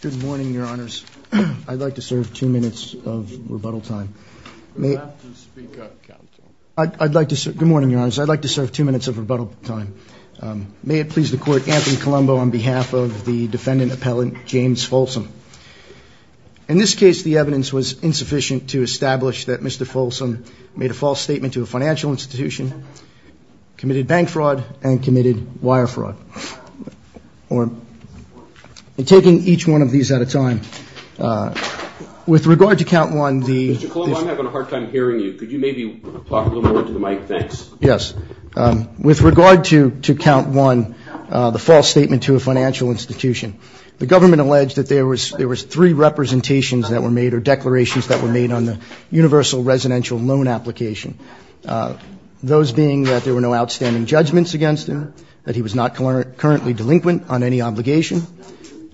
Good morning, your honors. I'd like to serve two minutes of rebuttal time. Good morning, your honors. I'd like to serve two minutes of rebuttal time. May it please the court, Anthony Colombo on behalf of the defendant appellant, James Folsom. In this case, the evidence was insufficient to establish that Mr. Folsom made a false statement to a financial institution, committed bank fraud, and committed wire fraud. We're taking each one of these at a time. With regard to count one, the Mr. Colombo, I'm having a hard time hearing you. Could you maybe talk a little more into the mic? Thanks. Yes. With regard to count one, the false statement to a financial institution, the government alleged that there was three representations that were made or declarations that were made on the universal residential loan application, those being that there were no outstanding judgments against him, that he was not currently delinquent on any obligation,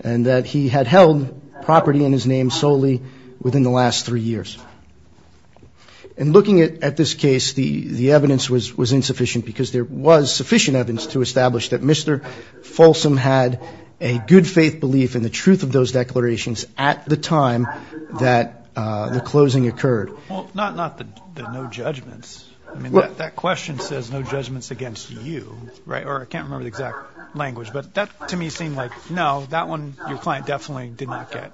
and that he had held property in his name solely within the last three years. In looking at this case, the evidence was insufficient because there was sufficient evidence to establish that Mr. Folsom had a good faith belief in the truth of those declarations at the time that the closing occurred. Well, not the no judgments. I mean, that question says no judgments against you, right? Or I can't remember the exact language. But that, to me, seemed like, no, that one your client definitely did not get.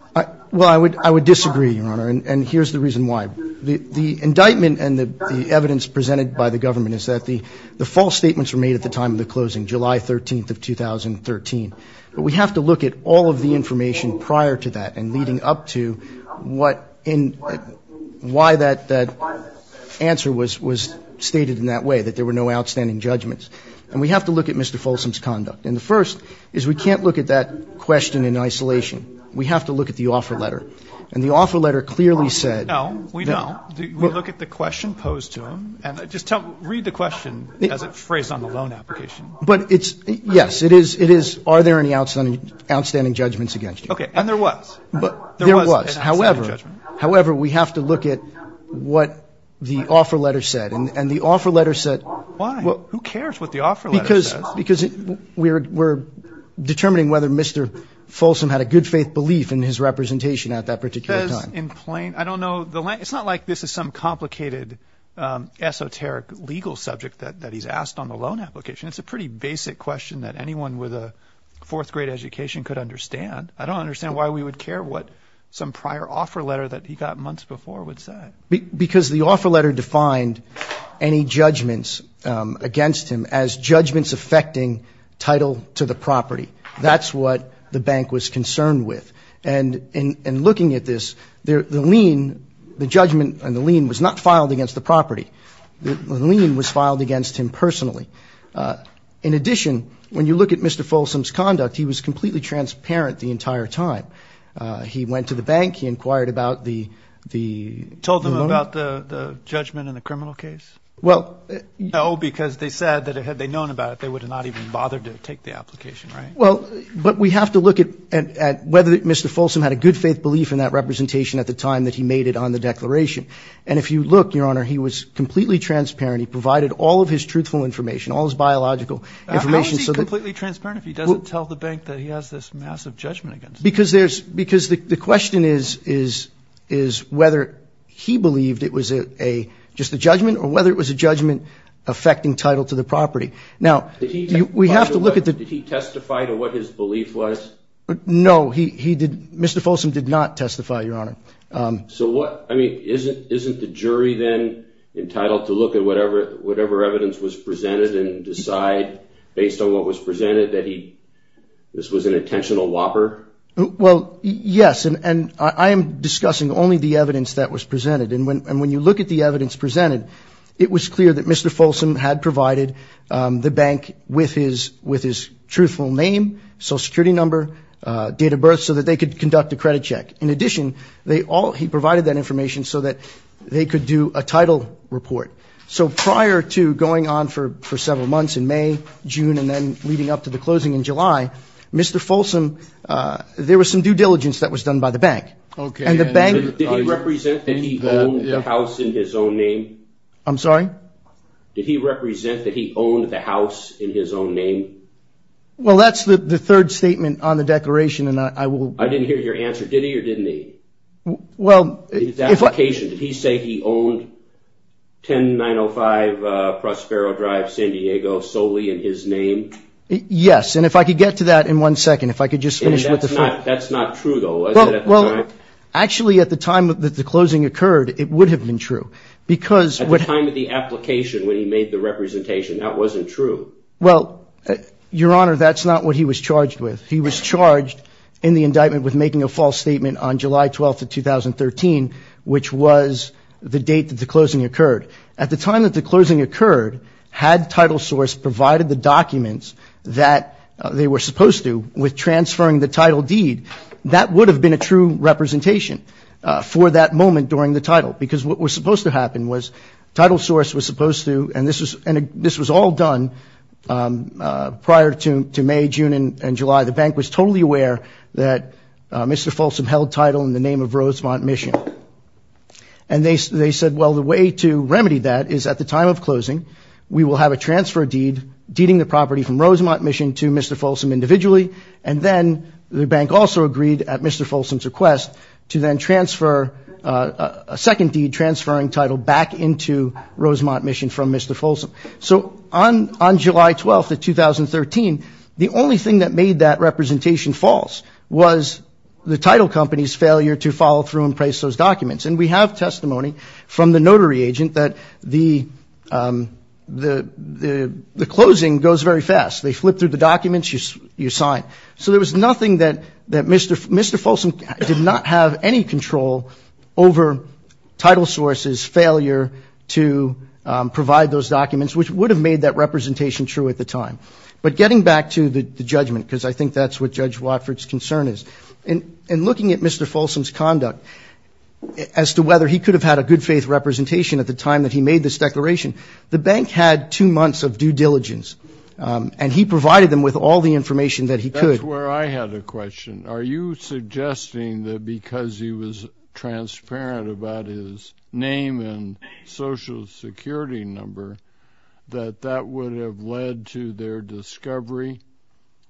Well, I would disagree, Your Honor, and here's the reason why. The indictment and the evidence presented by the government is that the false statements were made at the time of the closing, July 13th of 2013. But we have to look at all of the information prior to that and leading up to what and why that answer was stated in that way, that there were no outstanding judgments. And we have to look at Mr. Folsom's conduct. And the first is we can't look at that question in isolation. We have to look at the offer letter. And the offer letter clearly said no. We don't. We look at the question posed to him. And just read the question as it's phrased on the loan application. But it's, yes, it is, are there any outstanding judgments against you? Okay. And there was. There was an outstanding judgment. However, we have to look at what the offer letter said. And the offer letter said Why? Who cares what the offer letter says? Because we're determining whether Mr. Folsom had a good faith belief in his representation at that particular time. In plain, I don't know. It's not like this is some complicated esoteric legal subject that he's asked on the loan application. It's a pretty basic question that anyone with a fourth grade education could understand. I don't understand why we would care what some prior offer letter that he got months before would say. Because the offer letter defined any judgments against him as judgments affecting title to the property. That's what the bank was concerned with. And in looking at this, the lien, the judgment and the lien was not filed against the property. The lien was filed against him personally. In addition, when you look at Mr. Folsom's conduct, he was completely transparent the entire time. He went to the bank. He inquired about the loan. About the judgment in the criminal case? Well, but we have to look at whether Mr. Folsom had a good faith belief in that representation at the time that he made it on the declaration. And if you look, Your Honor, he was completely transparent. He provided all of his truthful information, all his biological information. How is he completely transparent if he doesn't tell the bank that he has this massive judgment against him? Because the question is whether he believed it was just a judgment or whether it was a judgment affecting title to the property. Did he testify to what his belief was? No, Mr. Folsom did not testify, Your Honor. So isn't the jury then entitled to look at whatever evidence was presented and decide based on what was presented that this was an intentional whopper? Well, yes. And I am discussing only the evidence that was presented. And when you look at the evidence presented, it was clear that Mr. Folsom had provided the bank with his truthful name, social security number, date of birth, so that they could conduct a credit check. In addition, they all, he provided that information so that they could do a title report. So prior to going on for several months in May, June, and then leading up to the closing in July, Mr. Folsom, there was no evidence that he had a title report. There was some due diligence that was done by the bank. Did he represent that he owned the house in his own name? Well, that's the third statement on the declaration. I didn't hear your answer. Did he or didn't he? His application. Did he say he owned 10905 Prospero Drive, San Diego, solely in his name? Yes. And if I could get to that in one second, if I could just finish with the first. That's not true, though, is it? Well, actually, at the time that the closing occurred, it would have been true. At the time of the application when he made the representation, that wasn't true. Well, Your Honor, that's not what he was charged with. He was charged in the indictment with making a false statement on July 12th of 2013, which was the date that the closing occurred. At the time that the closing occurred, had TitleSource provided the documents that they were supposed to with transferring the title deed, that would have been a true representation for that moment during the title. Because what was supposed to happen was TitleSource was supposed to, and this was all done prior to May, June, and July. The bank was totally aware that Mr. Folsom held title in the name of Rosemont Mission. And they said, well, the way to remedy that is at the time of closing, we will have a transfer deed deeding the property from Rosemont Mission to Mr. Folsom individually. And then the bank also agreed at Mr. Folsom's request to then transfer a second deed transferring title back into Rosemont Mission from Mr. Folsom. So on July 12th of 2013, the only thing that made that representation false was the title company's failure to follow through and place those documents. And we have testimony from the notary agent that the closing goes very fast. They flip through the documents, you sign. So there was nothing that Mr. Folsom did not have any control over TitleSource's failure to provide those documents, which would have made that representation true at the time. But getting back to the judgment, because I think that's what Judge Watford's concern is, in looking at Mr. Folsom's conduct as to whether he could have had a good-faith representation at the time that he made this declaration, the bank had two months of due diligence. And he provided them with all the information that he could. That's where I had a question. Are you suggesting that because he was transparent about his name and Social Security number, that that would have led to their discovery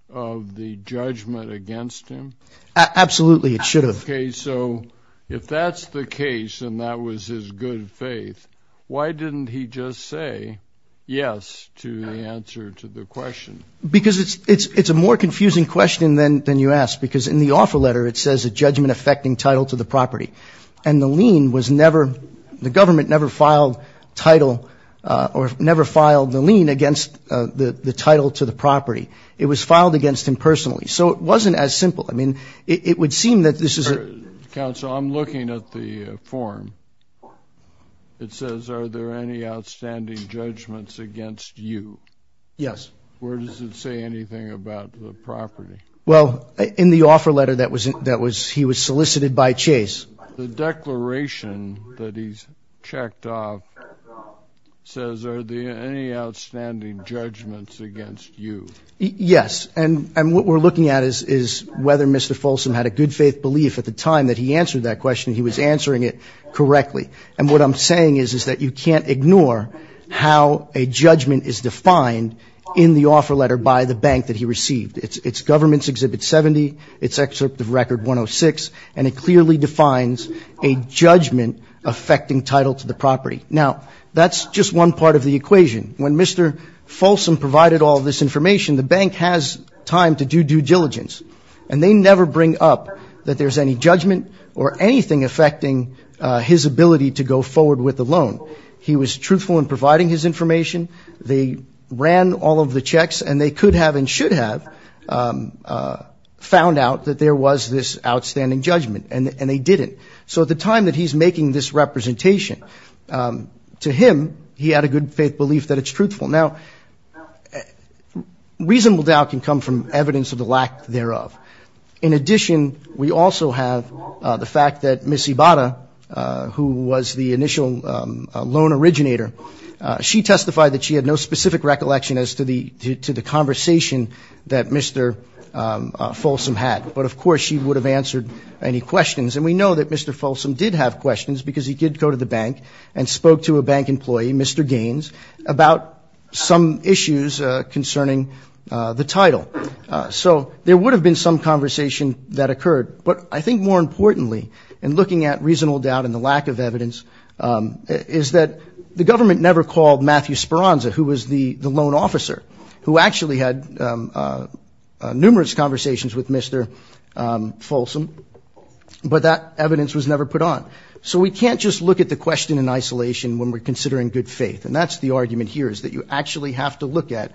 of the judgment against him? Absolutely, it should have. Okay, so if that's the case and that was his good faith, why didn't he just say yes to the answer to the question? Because it's a more confusing question than you asked, because in the offer letter it says a judgment affecting title to the property. And the lien was never, the government never filed title or never filed the lien against the title to the property. It was filed against him personally. So it wasn't as simple. Counsel, I'm looking at the form. It says, are there any outstanding judgments against you? Yes. Where does it say anything about the property? Well, in the offer letter, he was solicited by Chase. Yes, and what we're looking at is whether Mr. Folsom had a good faith belief at the time that he answered that question that he was answering it correctly. And what I'm saying is that you can't ignore how a judgment is defined in the offer letter by the bank that he received. It's Government's Exhibit 70, it's Excerpt of Record 106, and it clearly defines a judgment affecting title to the property. Now, that's just one part of the equation. The bank has time to do due diligence, and they never bring up that there's any judgment or anything affecting his ability to go forward with a loan. He was truthful in providing his information. They ran all of the checks, and they could have and should have found out that there was this outstanding judgment, and they didn't. So at the time that he's making this representation, to him, he had a good faith belief that it's truthful. Now, reasonable doubt can come from evidence of the lack thereof. In addition, we also have the fact that Ms. Ibarra, who was the initial loan originator, she testified that she had no specific recollection as to the conversation that Mr. Folsom had. But, of course, she would have answered any questions. And we know that Mr. Folsom did have questions, because he did go to the bank and spoke to a bank employee, Mr. Gaines, about some issues concerning the title. So there would have been some conversation that occurred. But I think more importantly, in looking at reasonable doubt and the lack of evidence, is that the government never called Matthew Speranza, who was the loan officer, who actually had numerous conversations with Mr. Folsom. But that evidence was never put on. So we can't just look at the question in isolation when we're considering good faith. And that's the argument here, is that you actually have to look at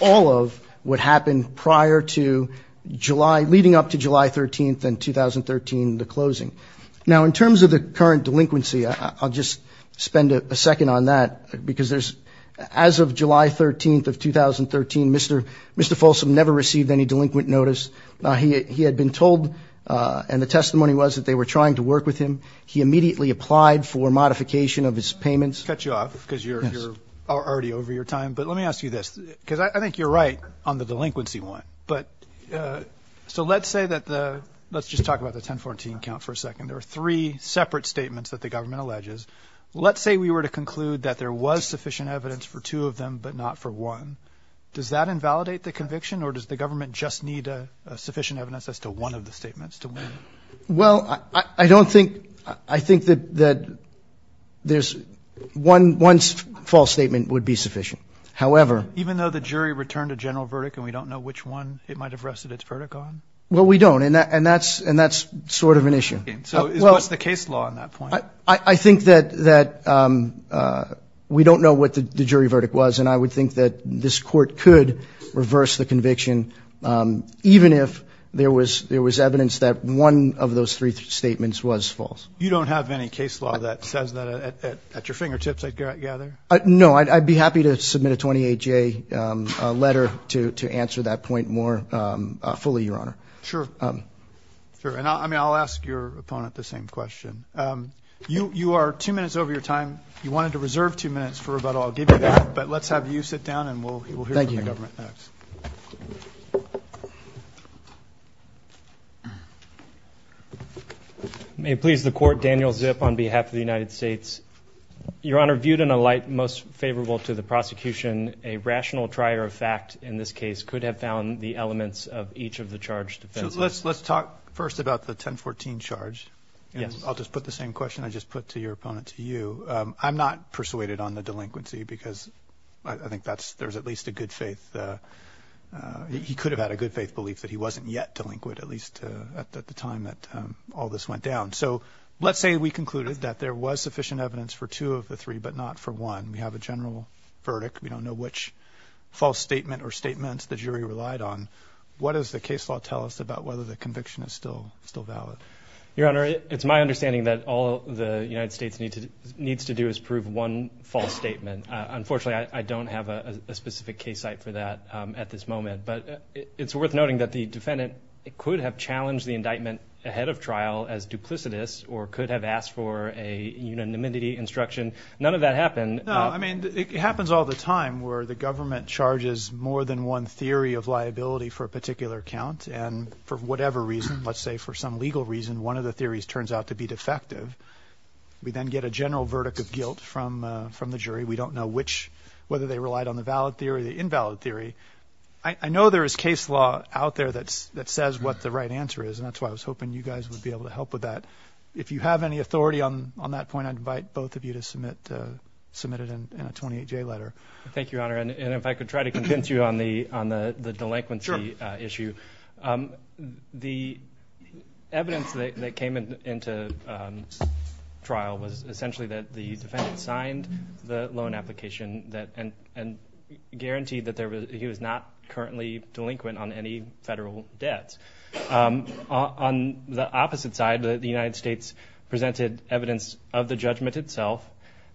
all of what happened prior to July, leading up to July 13th and 2013, the closing. Now, in terms of the current delinquency, I'll just spend a second on that, because there's, as of July 13th of 2013, Mr. Folsom never received any delinquent notice. He had been told, and the testimony was that they were trying to work with him. He immediately applied for modification of his payments. Cut you off, because you're already over your time. But let me ask you this, because I think you're right on the delinquency one. But, so let's say that the, let's just talk about the 1014 count for a second. There were three separate statements that the government alleges. Let's say we were to conclude that there was sufficient evidence for two of them, but not for one. Does that invalidate the conviction, or does the government just need sufficient evidence as to one of the statements to win? Well, I don't think, I think that there's, one false statement would be sufficient. However... Even though the jury returned a general verdict, and we don't know which one it might have rested its verdict on? Well, we don't, and that's sort of an issue. So what's the case law on that point? I think that we don't know what the jury verdict was, and I would think that this court could reverse the conviction, even if there was evidence that one of those three statements was false. You don't have any case law that says that at your fingertips, I gather? No, I'd be happy to submit a 28-J letter to answer that point more fully, Your Honor. Sure, and I'll ask your opponent the same question. You are two minutes over your time. You wanted to reserve two minutes for rebuttal. I'll give you that. But let's have you sit down, and we'll hear from the government next. May it please the Court, Daniel Zip on behalf of the United States. Your Honor, viewed in a light most favorable to the prosecution, a rational trier of fact in this case could have found the elements of each of the charged offenses. Let's talk first about the 1014 charge. I'll just put the same question I just put to your opponent, to you. I'm not persuaded on the delinquency, because I think there's at least a good faith. He could have had a good faith belief that he wasn't yet delinquent, at least at the time that all this went down. So let's say we concluded that there was sufficient evidence for two of the three, but not for one. We have a general verdict. We don't know which false statement or statements the jury relied on. What does the case law tell us about whether the conviction is still valid? Your Honor, it's my understanding that all the United States needs to do is prove one false statement. Unfortunately, I don't have a specific case site for that at this moment. But it's worth noting that the defendant could have challenged the indictment ahead of trial as duplicitous, or could have asked for a unanimity instruction. None of that happened. No, I mean, it happens all the time, where the government charges more than one theory of liability for a particular count. And for whatever reason, let's say for some legal reason, one of the theories turns out to be defective. We then get a general verdict of guilt from the jury. We don't know whether they relied on the valid theory or the invalid theory. I know there is case law out there that says what the right answer is, and that's why I was hoping you guys would be able to help with that. If you have any authority on that point, I invite both of you to submit it in a 28-J letter. Thank you, Your Honor, and if I could try to convince you on the delinquency issue. The evidence that came into trial was essentially that the defendant signed the loan application and guaranteed that he was not currently delinquent on any federal debts. On the opposite side, the United States presented evidence of the judgment itself.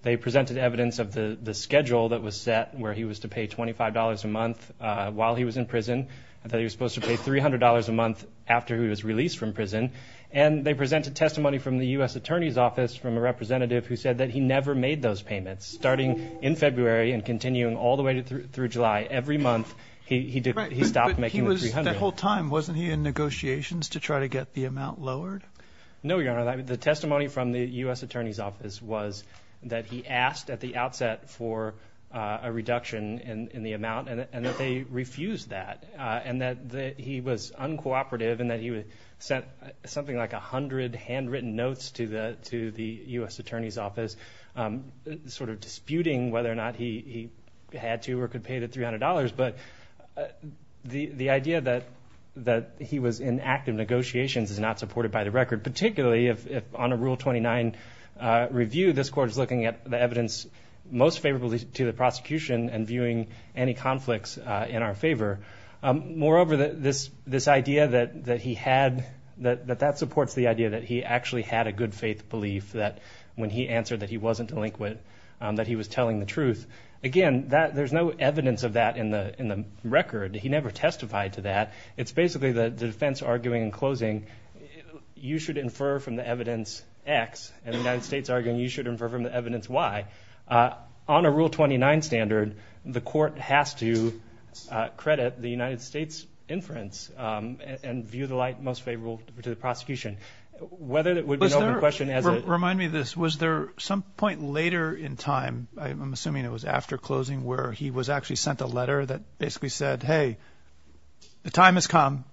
They presented evidence of the schedule that was set, where he was to pay $25 a month while he was in prison. I thought he was supposed to pay $300 a month after he was released from prison. And they presented testimony from the U.S. Attorney's Office from a representative who said that he never made those payments. Starting in February and continuing all the way through July, every month, he stopped making the $300. But he was, that whole time, wasn't he in negotiations to try to get the amount lowered? No, Your Honor, the testimony from the U.S. Attorney's Office was that he asked at the outset for a reduction in the amount and that they refused that, and that he was uncooperative, and that he sent something like 100 handwritten notes to the U.S. Attorney's Office, sort of disputing whether or not he had to or could pay the $300. But the idea that he was in active negotiations is not supported by the record, particularly if, on a Rule 29 review, this Court is looking at the evidence most favorable to the prosecution and viewing any conflicts in our favor. Moreover, this idea that he had, that that supports the idea that he actually had a good faith belief that when he answered that he wasn't delinquent, that he was telling the truth. Again, there's no evidence of that in the record. He never testified to that. It's basically the defense arguing in closing, you should infer from the evidence X, and the United States arguing you should infer from the evidence Y. On a Rule 29 standard, the Court has to credit the United States inference and view the light most favorable to the prosecution. Remind me of this. Was there some point later in time, I'm assuming it was after closing, where he was actually sent a letter that basically said, hey, the time has come.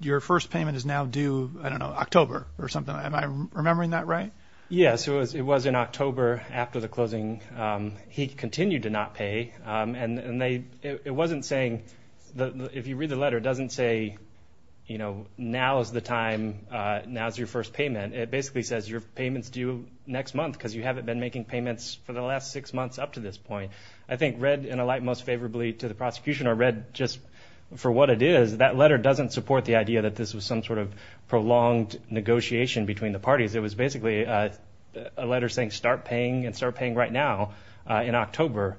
Your first payment is now due, I don't know, October or something. Am I remembering that right? He continued to not pay, and it wasn't saying, if you read the letter, it doesn't say now is the time, now is your first payment. It basically says your payment is due next month because you haven't been making payments for the last six months up to this point. I think read in a light most favorably to the prosecution or read just for what it is, that letter doesn't support the idea that this was some sort of prolonged negotiation between the parties. It was basically a letter saying start paying and start paying right now in October.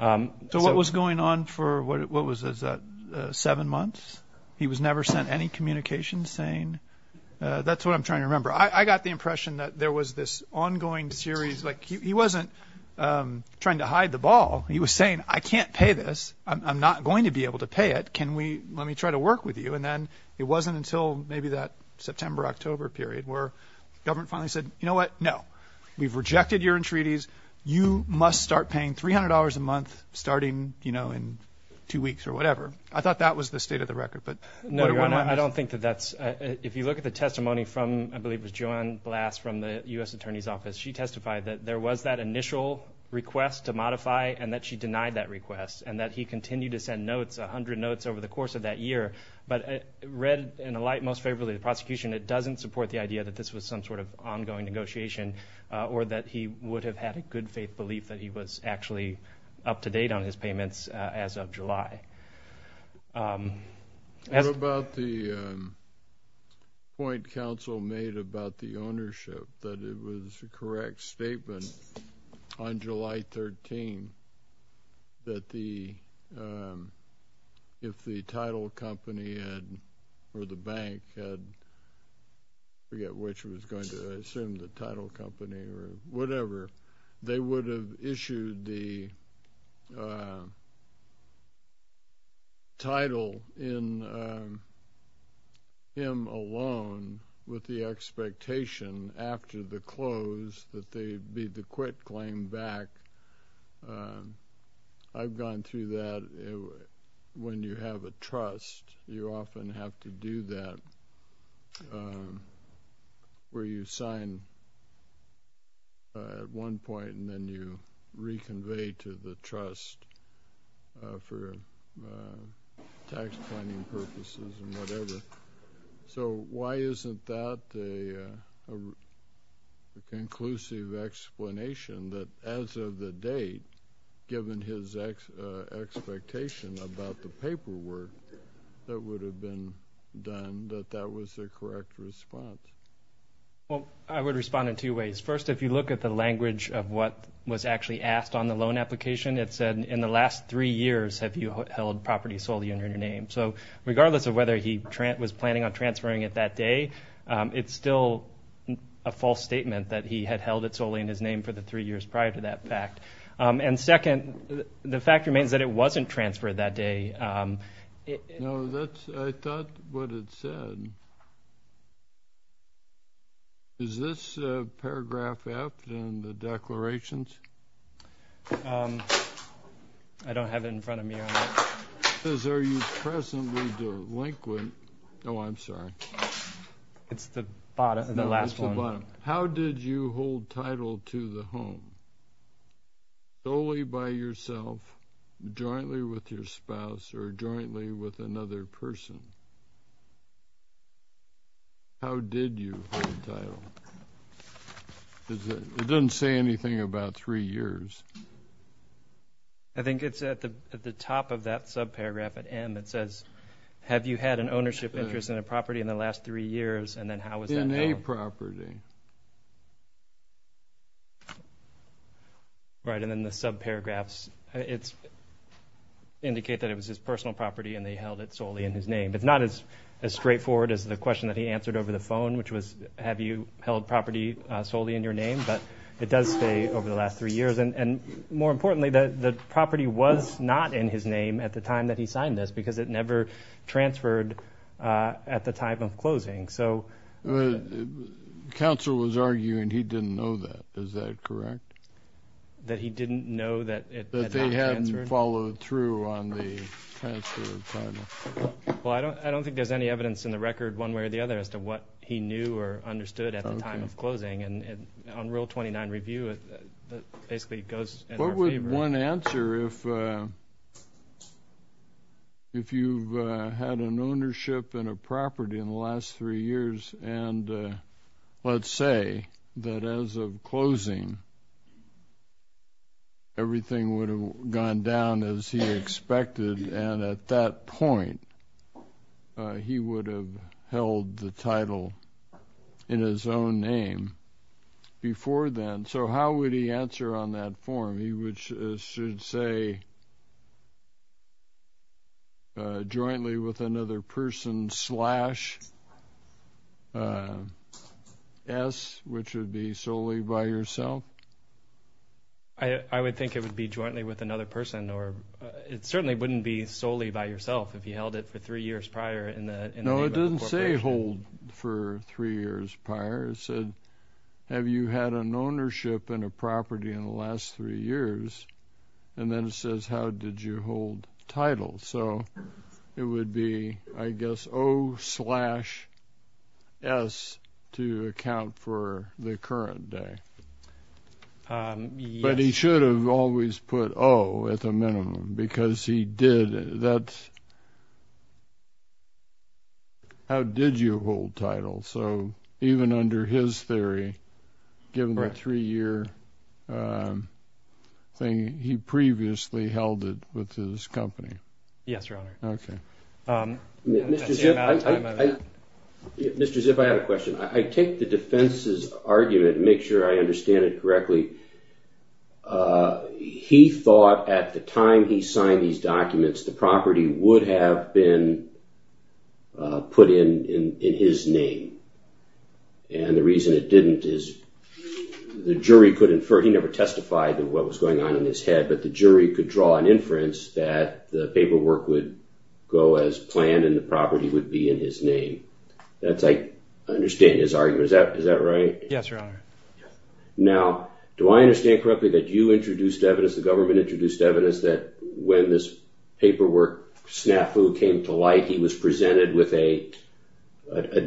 So what was going on for what was it, seven months? He was never sent any communication saying that's what I'm trying to remember. I got the impression that there was this ongoing series like he wasn't trying to hide the ball. He was saying I can't pay this. I'm not going to be able to pay it. Can we let me try to work with you? And then it wasn't until maybe that September, October period where government finally said, you know what? No, we've rejected your entreaties. You must start paying $300 a month starting, you know, in two weeks or whatever. I thought that was the state of the record. No, Your Honor, I don't think that that's, if you look at the testimony from, I believe it was Joanne Blass from the U.S. Attorney's Office, she testified that there was that initial request to modify and that she denied that request and that he continued to send notes, 100 notes over the course of that year. But read in a light most favorably to the prosecution, it doesn't support the idea that this was some sort of ongoing negotiation or that he would have had a good faith belief that he was actually up to date on his payments as of July. What about the point counsel made about the ownership, that it was a correct statement on July 13th that if the title company or the bank had, I forget which it was going to, I assume the title company or whatever, they would have issued the title in him alone with the expectation after the close that they'd be the quit claim back. I've gone through that. When you have a trust, you often have to do that where you sign at one point and then you reconvey to the trust for tax planning purposes and whatever. So why isn't that a conclusive explanation that as of the date given his expectation about the paperwork that would have been done, that that was the correct response? I would respond in two ways. First, if you look at the language of what was actually asked on the loan application, it said in the last three years have you held property solely in your name. Regardless of whether he was planning on transferring it that day, it's still a false statement that he had held it solely in his name for the three years prior to that fact. Second, the fact remains that it wasn't transferred that day. I thought what it said. Is this paragraph F in the declarations? I don't have it in front of me. It says are you presently delinquent? It's the last one. How did you hold title to the home solely by yourself, jointly with your spouse, or jointly with another person? How did you hold title? It doesn't say anything about three years. I think it's at the top of that subparagraph at M. It says have you had an ownership interest in a property in the last three years, and then how was that held? In a property. Right, and then the subparagraphs indicate that it was his personal property and they held it over the phone, which was have you held property solely in your name, but it does say over the last three years, and more importantly, the property was not in his name at the time that he signed this because it never transferred at the time of closing. Counsel was arguing he didn't know that. Is that correct? That he didn't know that it had not transferred? Followed through on the transfer of title. I don't think there's any evidence in the record one way or the other as to what he knew or understood at the time of closing. On Rule 29 review, it basically goes in our favor. What would one answer if you've had an ownership in a property in the last three years, and let's say that as of closing, everything would have gone down as he expected, and at that point he would have held the title in his own name before then. So how would he answer on that form? He should say jointly with another person slash S, which would be solely by yourself. I would think it would be jointly with another person. It certainly wouldn't be solely by yourself if he held it for three years prior. No, it doesn't say hold for three years prior. It said, have you had an ownership in a property in the last three years? And then it says, how did you hold title? So it would be, I guess, O slash S to account for the current day. But he should have always put O at the minimum because he did. How did you hold title? So even under his theory, given the three year thing, he previously held it with his company. Yes, Your Honor. Mr. Zipp, I have a question. I take the defense's argument, make sure I understand it correctly. He thought at the time he signed these documents, the property would have been put in his name. And the reason it didn't is the jury could infer, he never testified of what was going on in his head, but the jury could draw an inference that the paperwork would go as planned and the property would be in his name. I understand his argument. Is that right? Yes, Your Honor. Now, do I understand correctly that you introduced evidence, the government introduced evidence that when this paperwork snafu came to light, he was presented with a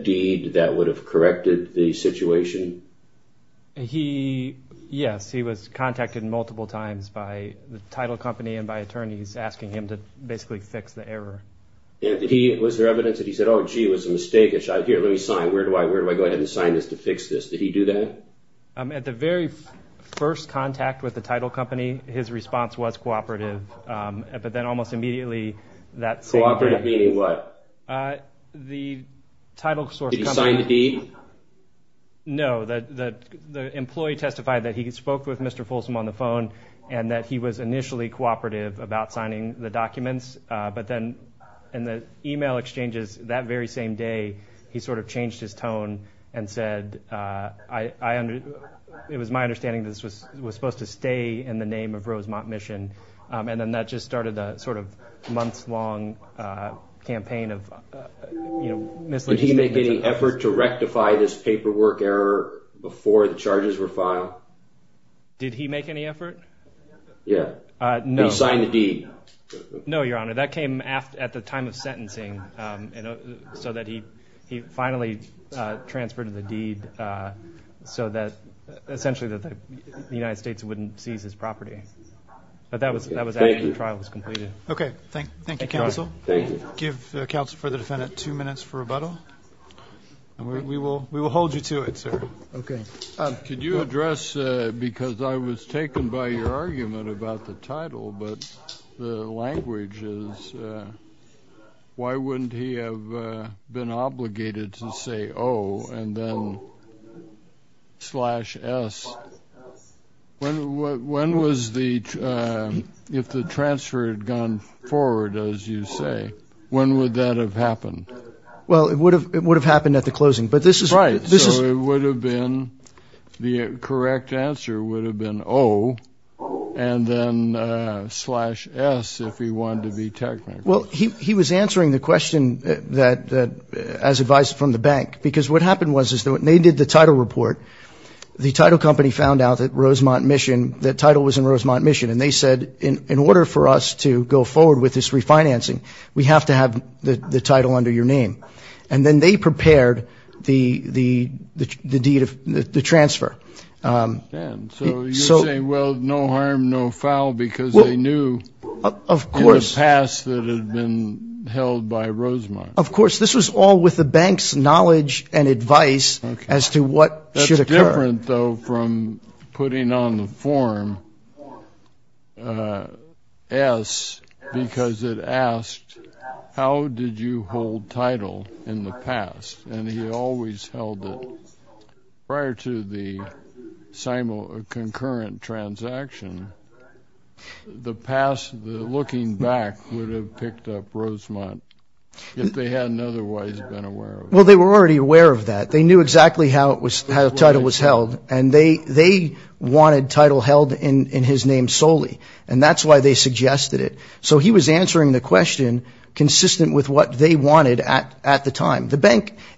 deed that would have corrected the situation? Yes, he was contacted multiple times by the title company and by attorneys asking him to basically fix the error. Was there evidence that he said, oh gee, it was a mistake, here let me sign, where do I go ahead and sign this to fix this? Did he do that? At the very first contact with the title company, his response was cooperative, but then almost immediately that... Cooperative meaning what? Did he sign the deed? No, the employee testified that he spoke with Mr. Folsom on the phone and that he was initially cooperative about signing the documents, but then in the email exchanges that very same day, he sort of changed his tone and said, it was my understanding that this was supposed to stay in the name of Rosemont Mission, and then that just started a sort of months long campaign of... Did he make any effort to rectify this paperwork error before the charges were filed? Did he make any effort? Yeah. Did he sign the deed? No, your honor, that came at the time of sentencing so that he finally transferred the deed so that essentially the United States wouldn't seize his property. But that was after the trial was completed. Okay, thank you counsel. Thank you. Give counsel for the defendant two minutes for rebuttal. We will hold you to it, sir. Okay. Could you address, because I was taken by your argument about the title, but the language is why wouldn't he have been obligated to say O and then slash S? When was the, if the transfer had gone forward, as you say, when would that have happened? Well, it would have happened at the closing, but this is... Right, so it would have been, the correct answer would have been O and then slash S if he wanted to be technical. Well, he was answering the question that, as advised from the bank, because what happened was they did the title report. The title company found out that Rosemont Mission, the title was in Rosemont Mission, and they said, in order for us to go forward with this refinancing, we have to have the title under your name. And then they prepared the deed of the transfer. And so you're saying, well, no harm, no foul, because they knew in the past that it had been held by Rosemont. Of course. This was all with the bank's knowledge and advice as to what should occur. That's different, though, from putting on the form S because it asked, how did you hold title in the past? And he always held it. Prior to the concurrent transaction, the past, looking back, would have picked up Rosemont if they hadn't otherwise been aware of it. Well, they were already aware of that. They knew exactly how the title was held, and they wanted title held in his name solely, and that's why they suggested it. So he was answering the question consistent with what they wanted at the time.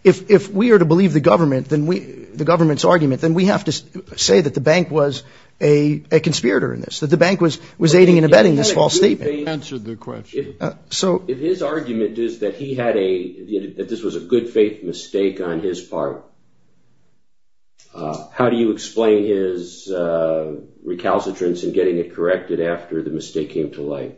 If we are to believe the government's argument, then we have to say that the bank was a conspirator in this, that the bank was aiding and abetting this false statement. If his argument is that this was a good faith mistake on his part, how do you explain his recalcitrance in getting it corrected after the mistake came to light?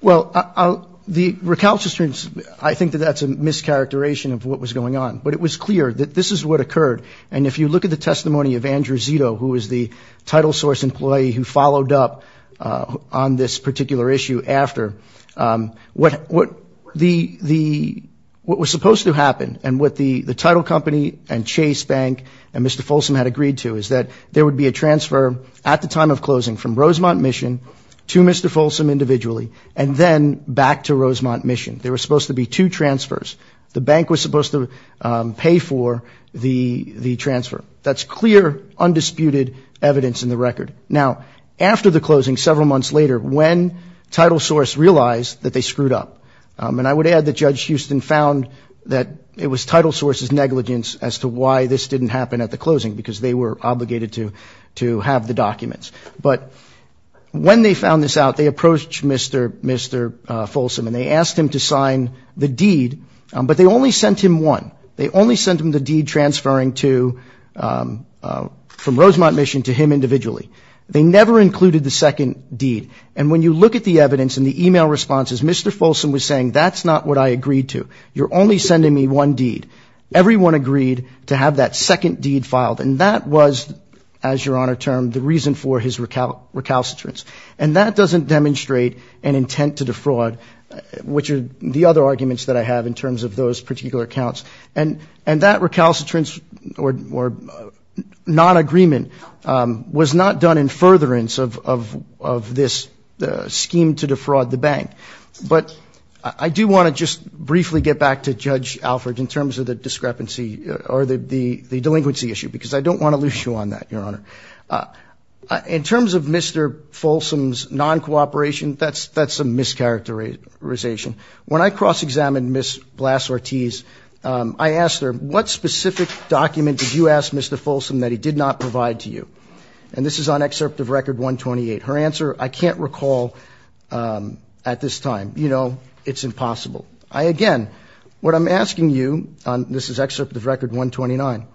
Well, the recalcitrance, I think that that's a mischaracterization of what was going on. But it was clear that this is what occurred. And if you look at the testimony of Andrew Zito, who was the title source employee who followed up on this particular issue after, what was supposed to happen and what the title company and Chase Bank and Mr. Folsom had agreed to is that there would be a transfer at the time of closing from Rosemont Mission to Mr. Folsom individually, and then back to Rosemont Mission. There was supposed to be two transfers. The bank was supposed to pay for the transfer. That's clear, undisputed evidence in the record. Now, after the closing, several months later, when title source realized that they screwed up, and I would add that Judge Houston found that it was title source's negligence as to why this didn't happen at the closing, because they were obligated to have the documents. But when they found this out, they approached Mr. Folsom and they asked him to sign the deed, but they only sent him one. They only sent him the deed transferring from Rosemont Mission to him individually. They never included the second deed. And when you look at the evidence in the e-mail responses, Mr. Folsom was saying, that's not what I agreed to. You're only sending me one deed. Everyone agreed to have that second deed filed. And that was, as Your Honor termed, the reason for his recalcitrance. And that doesn't demonstrate an intent to defraud, which are the other arguments that I have in terms of those particular accounts. And that recalcitrance or non-agreement was not done in furtherance of this scheme to defraud the bank. But I do want to just briefly get back to Judge Alford in terms of the discrepancy or the delinquency issue, because I don't want to lose you on that, Your Honor. In terms of Mr. Folsom's non-cooperation, that's a mischaracterization. When I cross-examined Ms. Blas-Ortiz, I asked her, what specific document did you ask Mr. Folsom that he did not provide to you? And this is on Excerpt of Record 128. Her answer, I can't recall at this time. You know, it's impossible. I again, what I'm asking you, this is Excerpt of Record 129,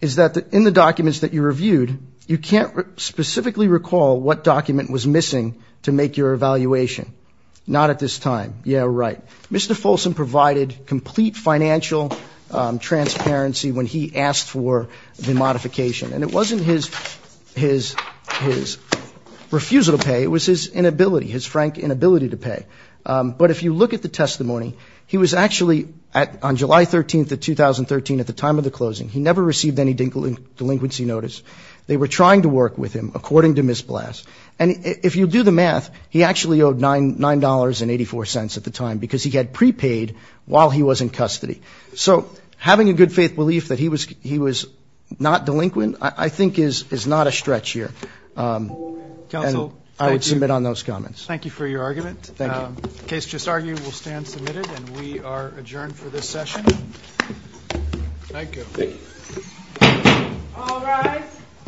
is that in the documents that you reviewed, you can't specifically recall what document was missing to make your evaluation. Not at this time. Yeah, right. Mr. Folsom provided complete financial transparency when he asked for the modification. And it wasn't his refusal to pay, it was his inability, his frank inability to pay. But if you look at the testimony, he was actually, on July 13th of 2013, at the time of the closing, he never received any delinquency notice. They were trying to work with him, according to Ms. Blas. And if you do the math, he actually owed $9.84 at the time, because he had prepaid while he was in custody. So having a good faith belief that he was not delinquent, I think, is not a stretch here. And I would submit on those comments. Thank you for your argument. The case just argued will stand submitted, and we are adjourned for this session.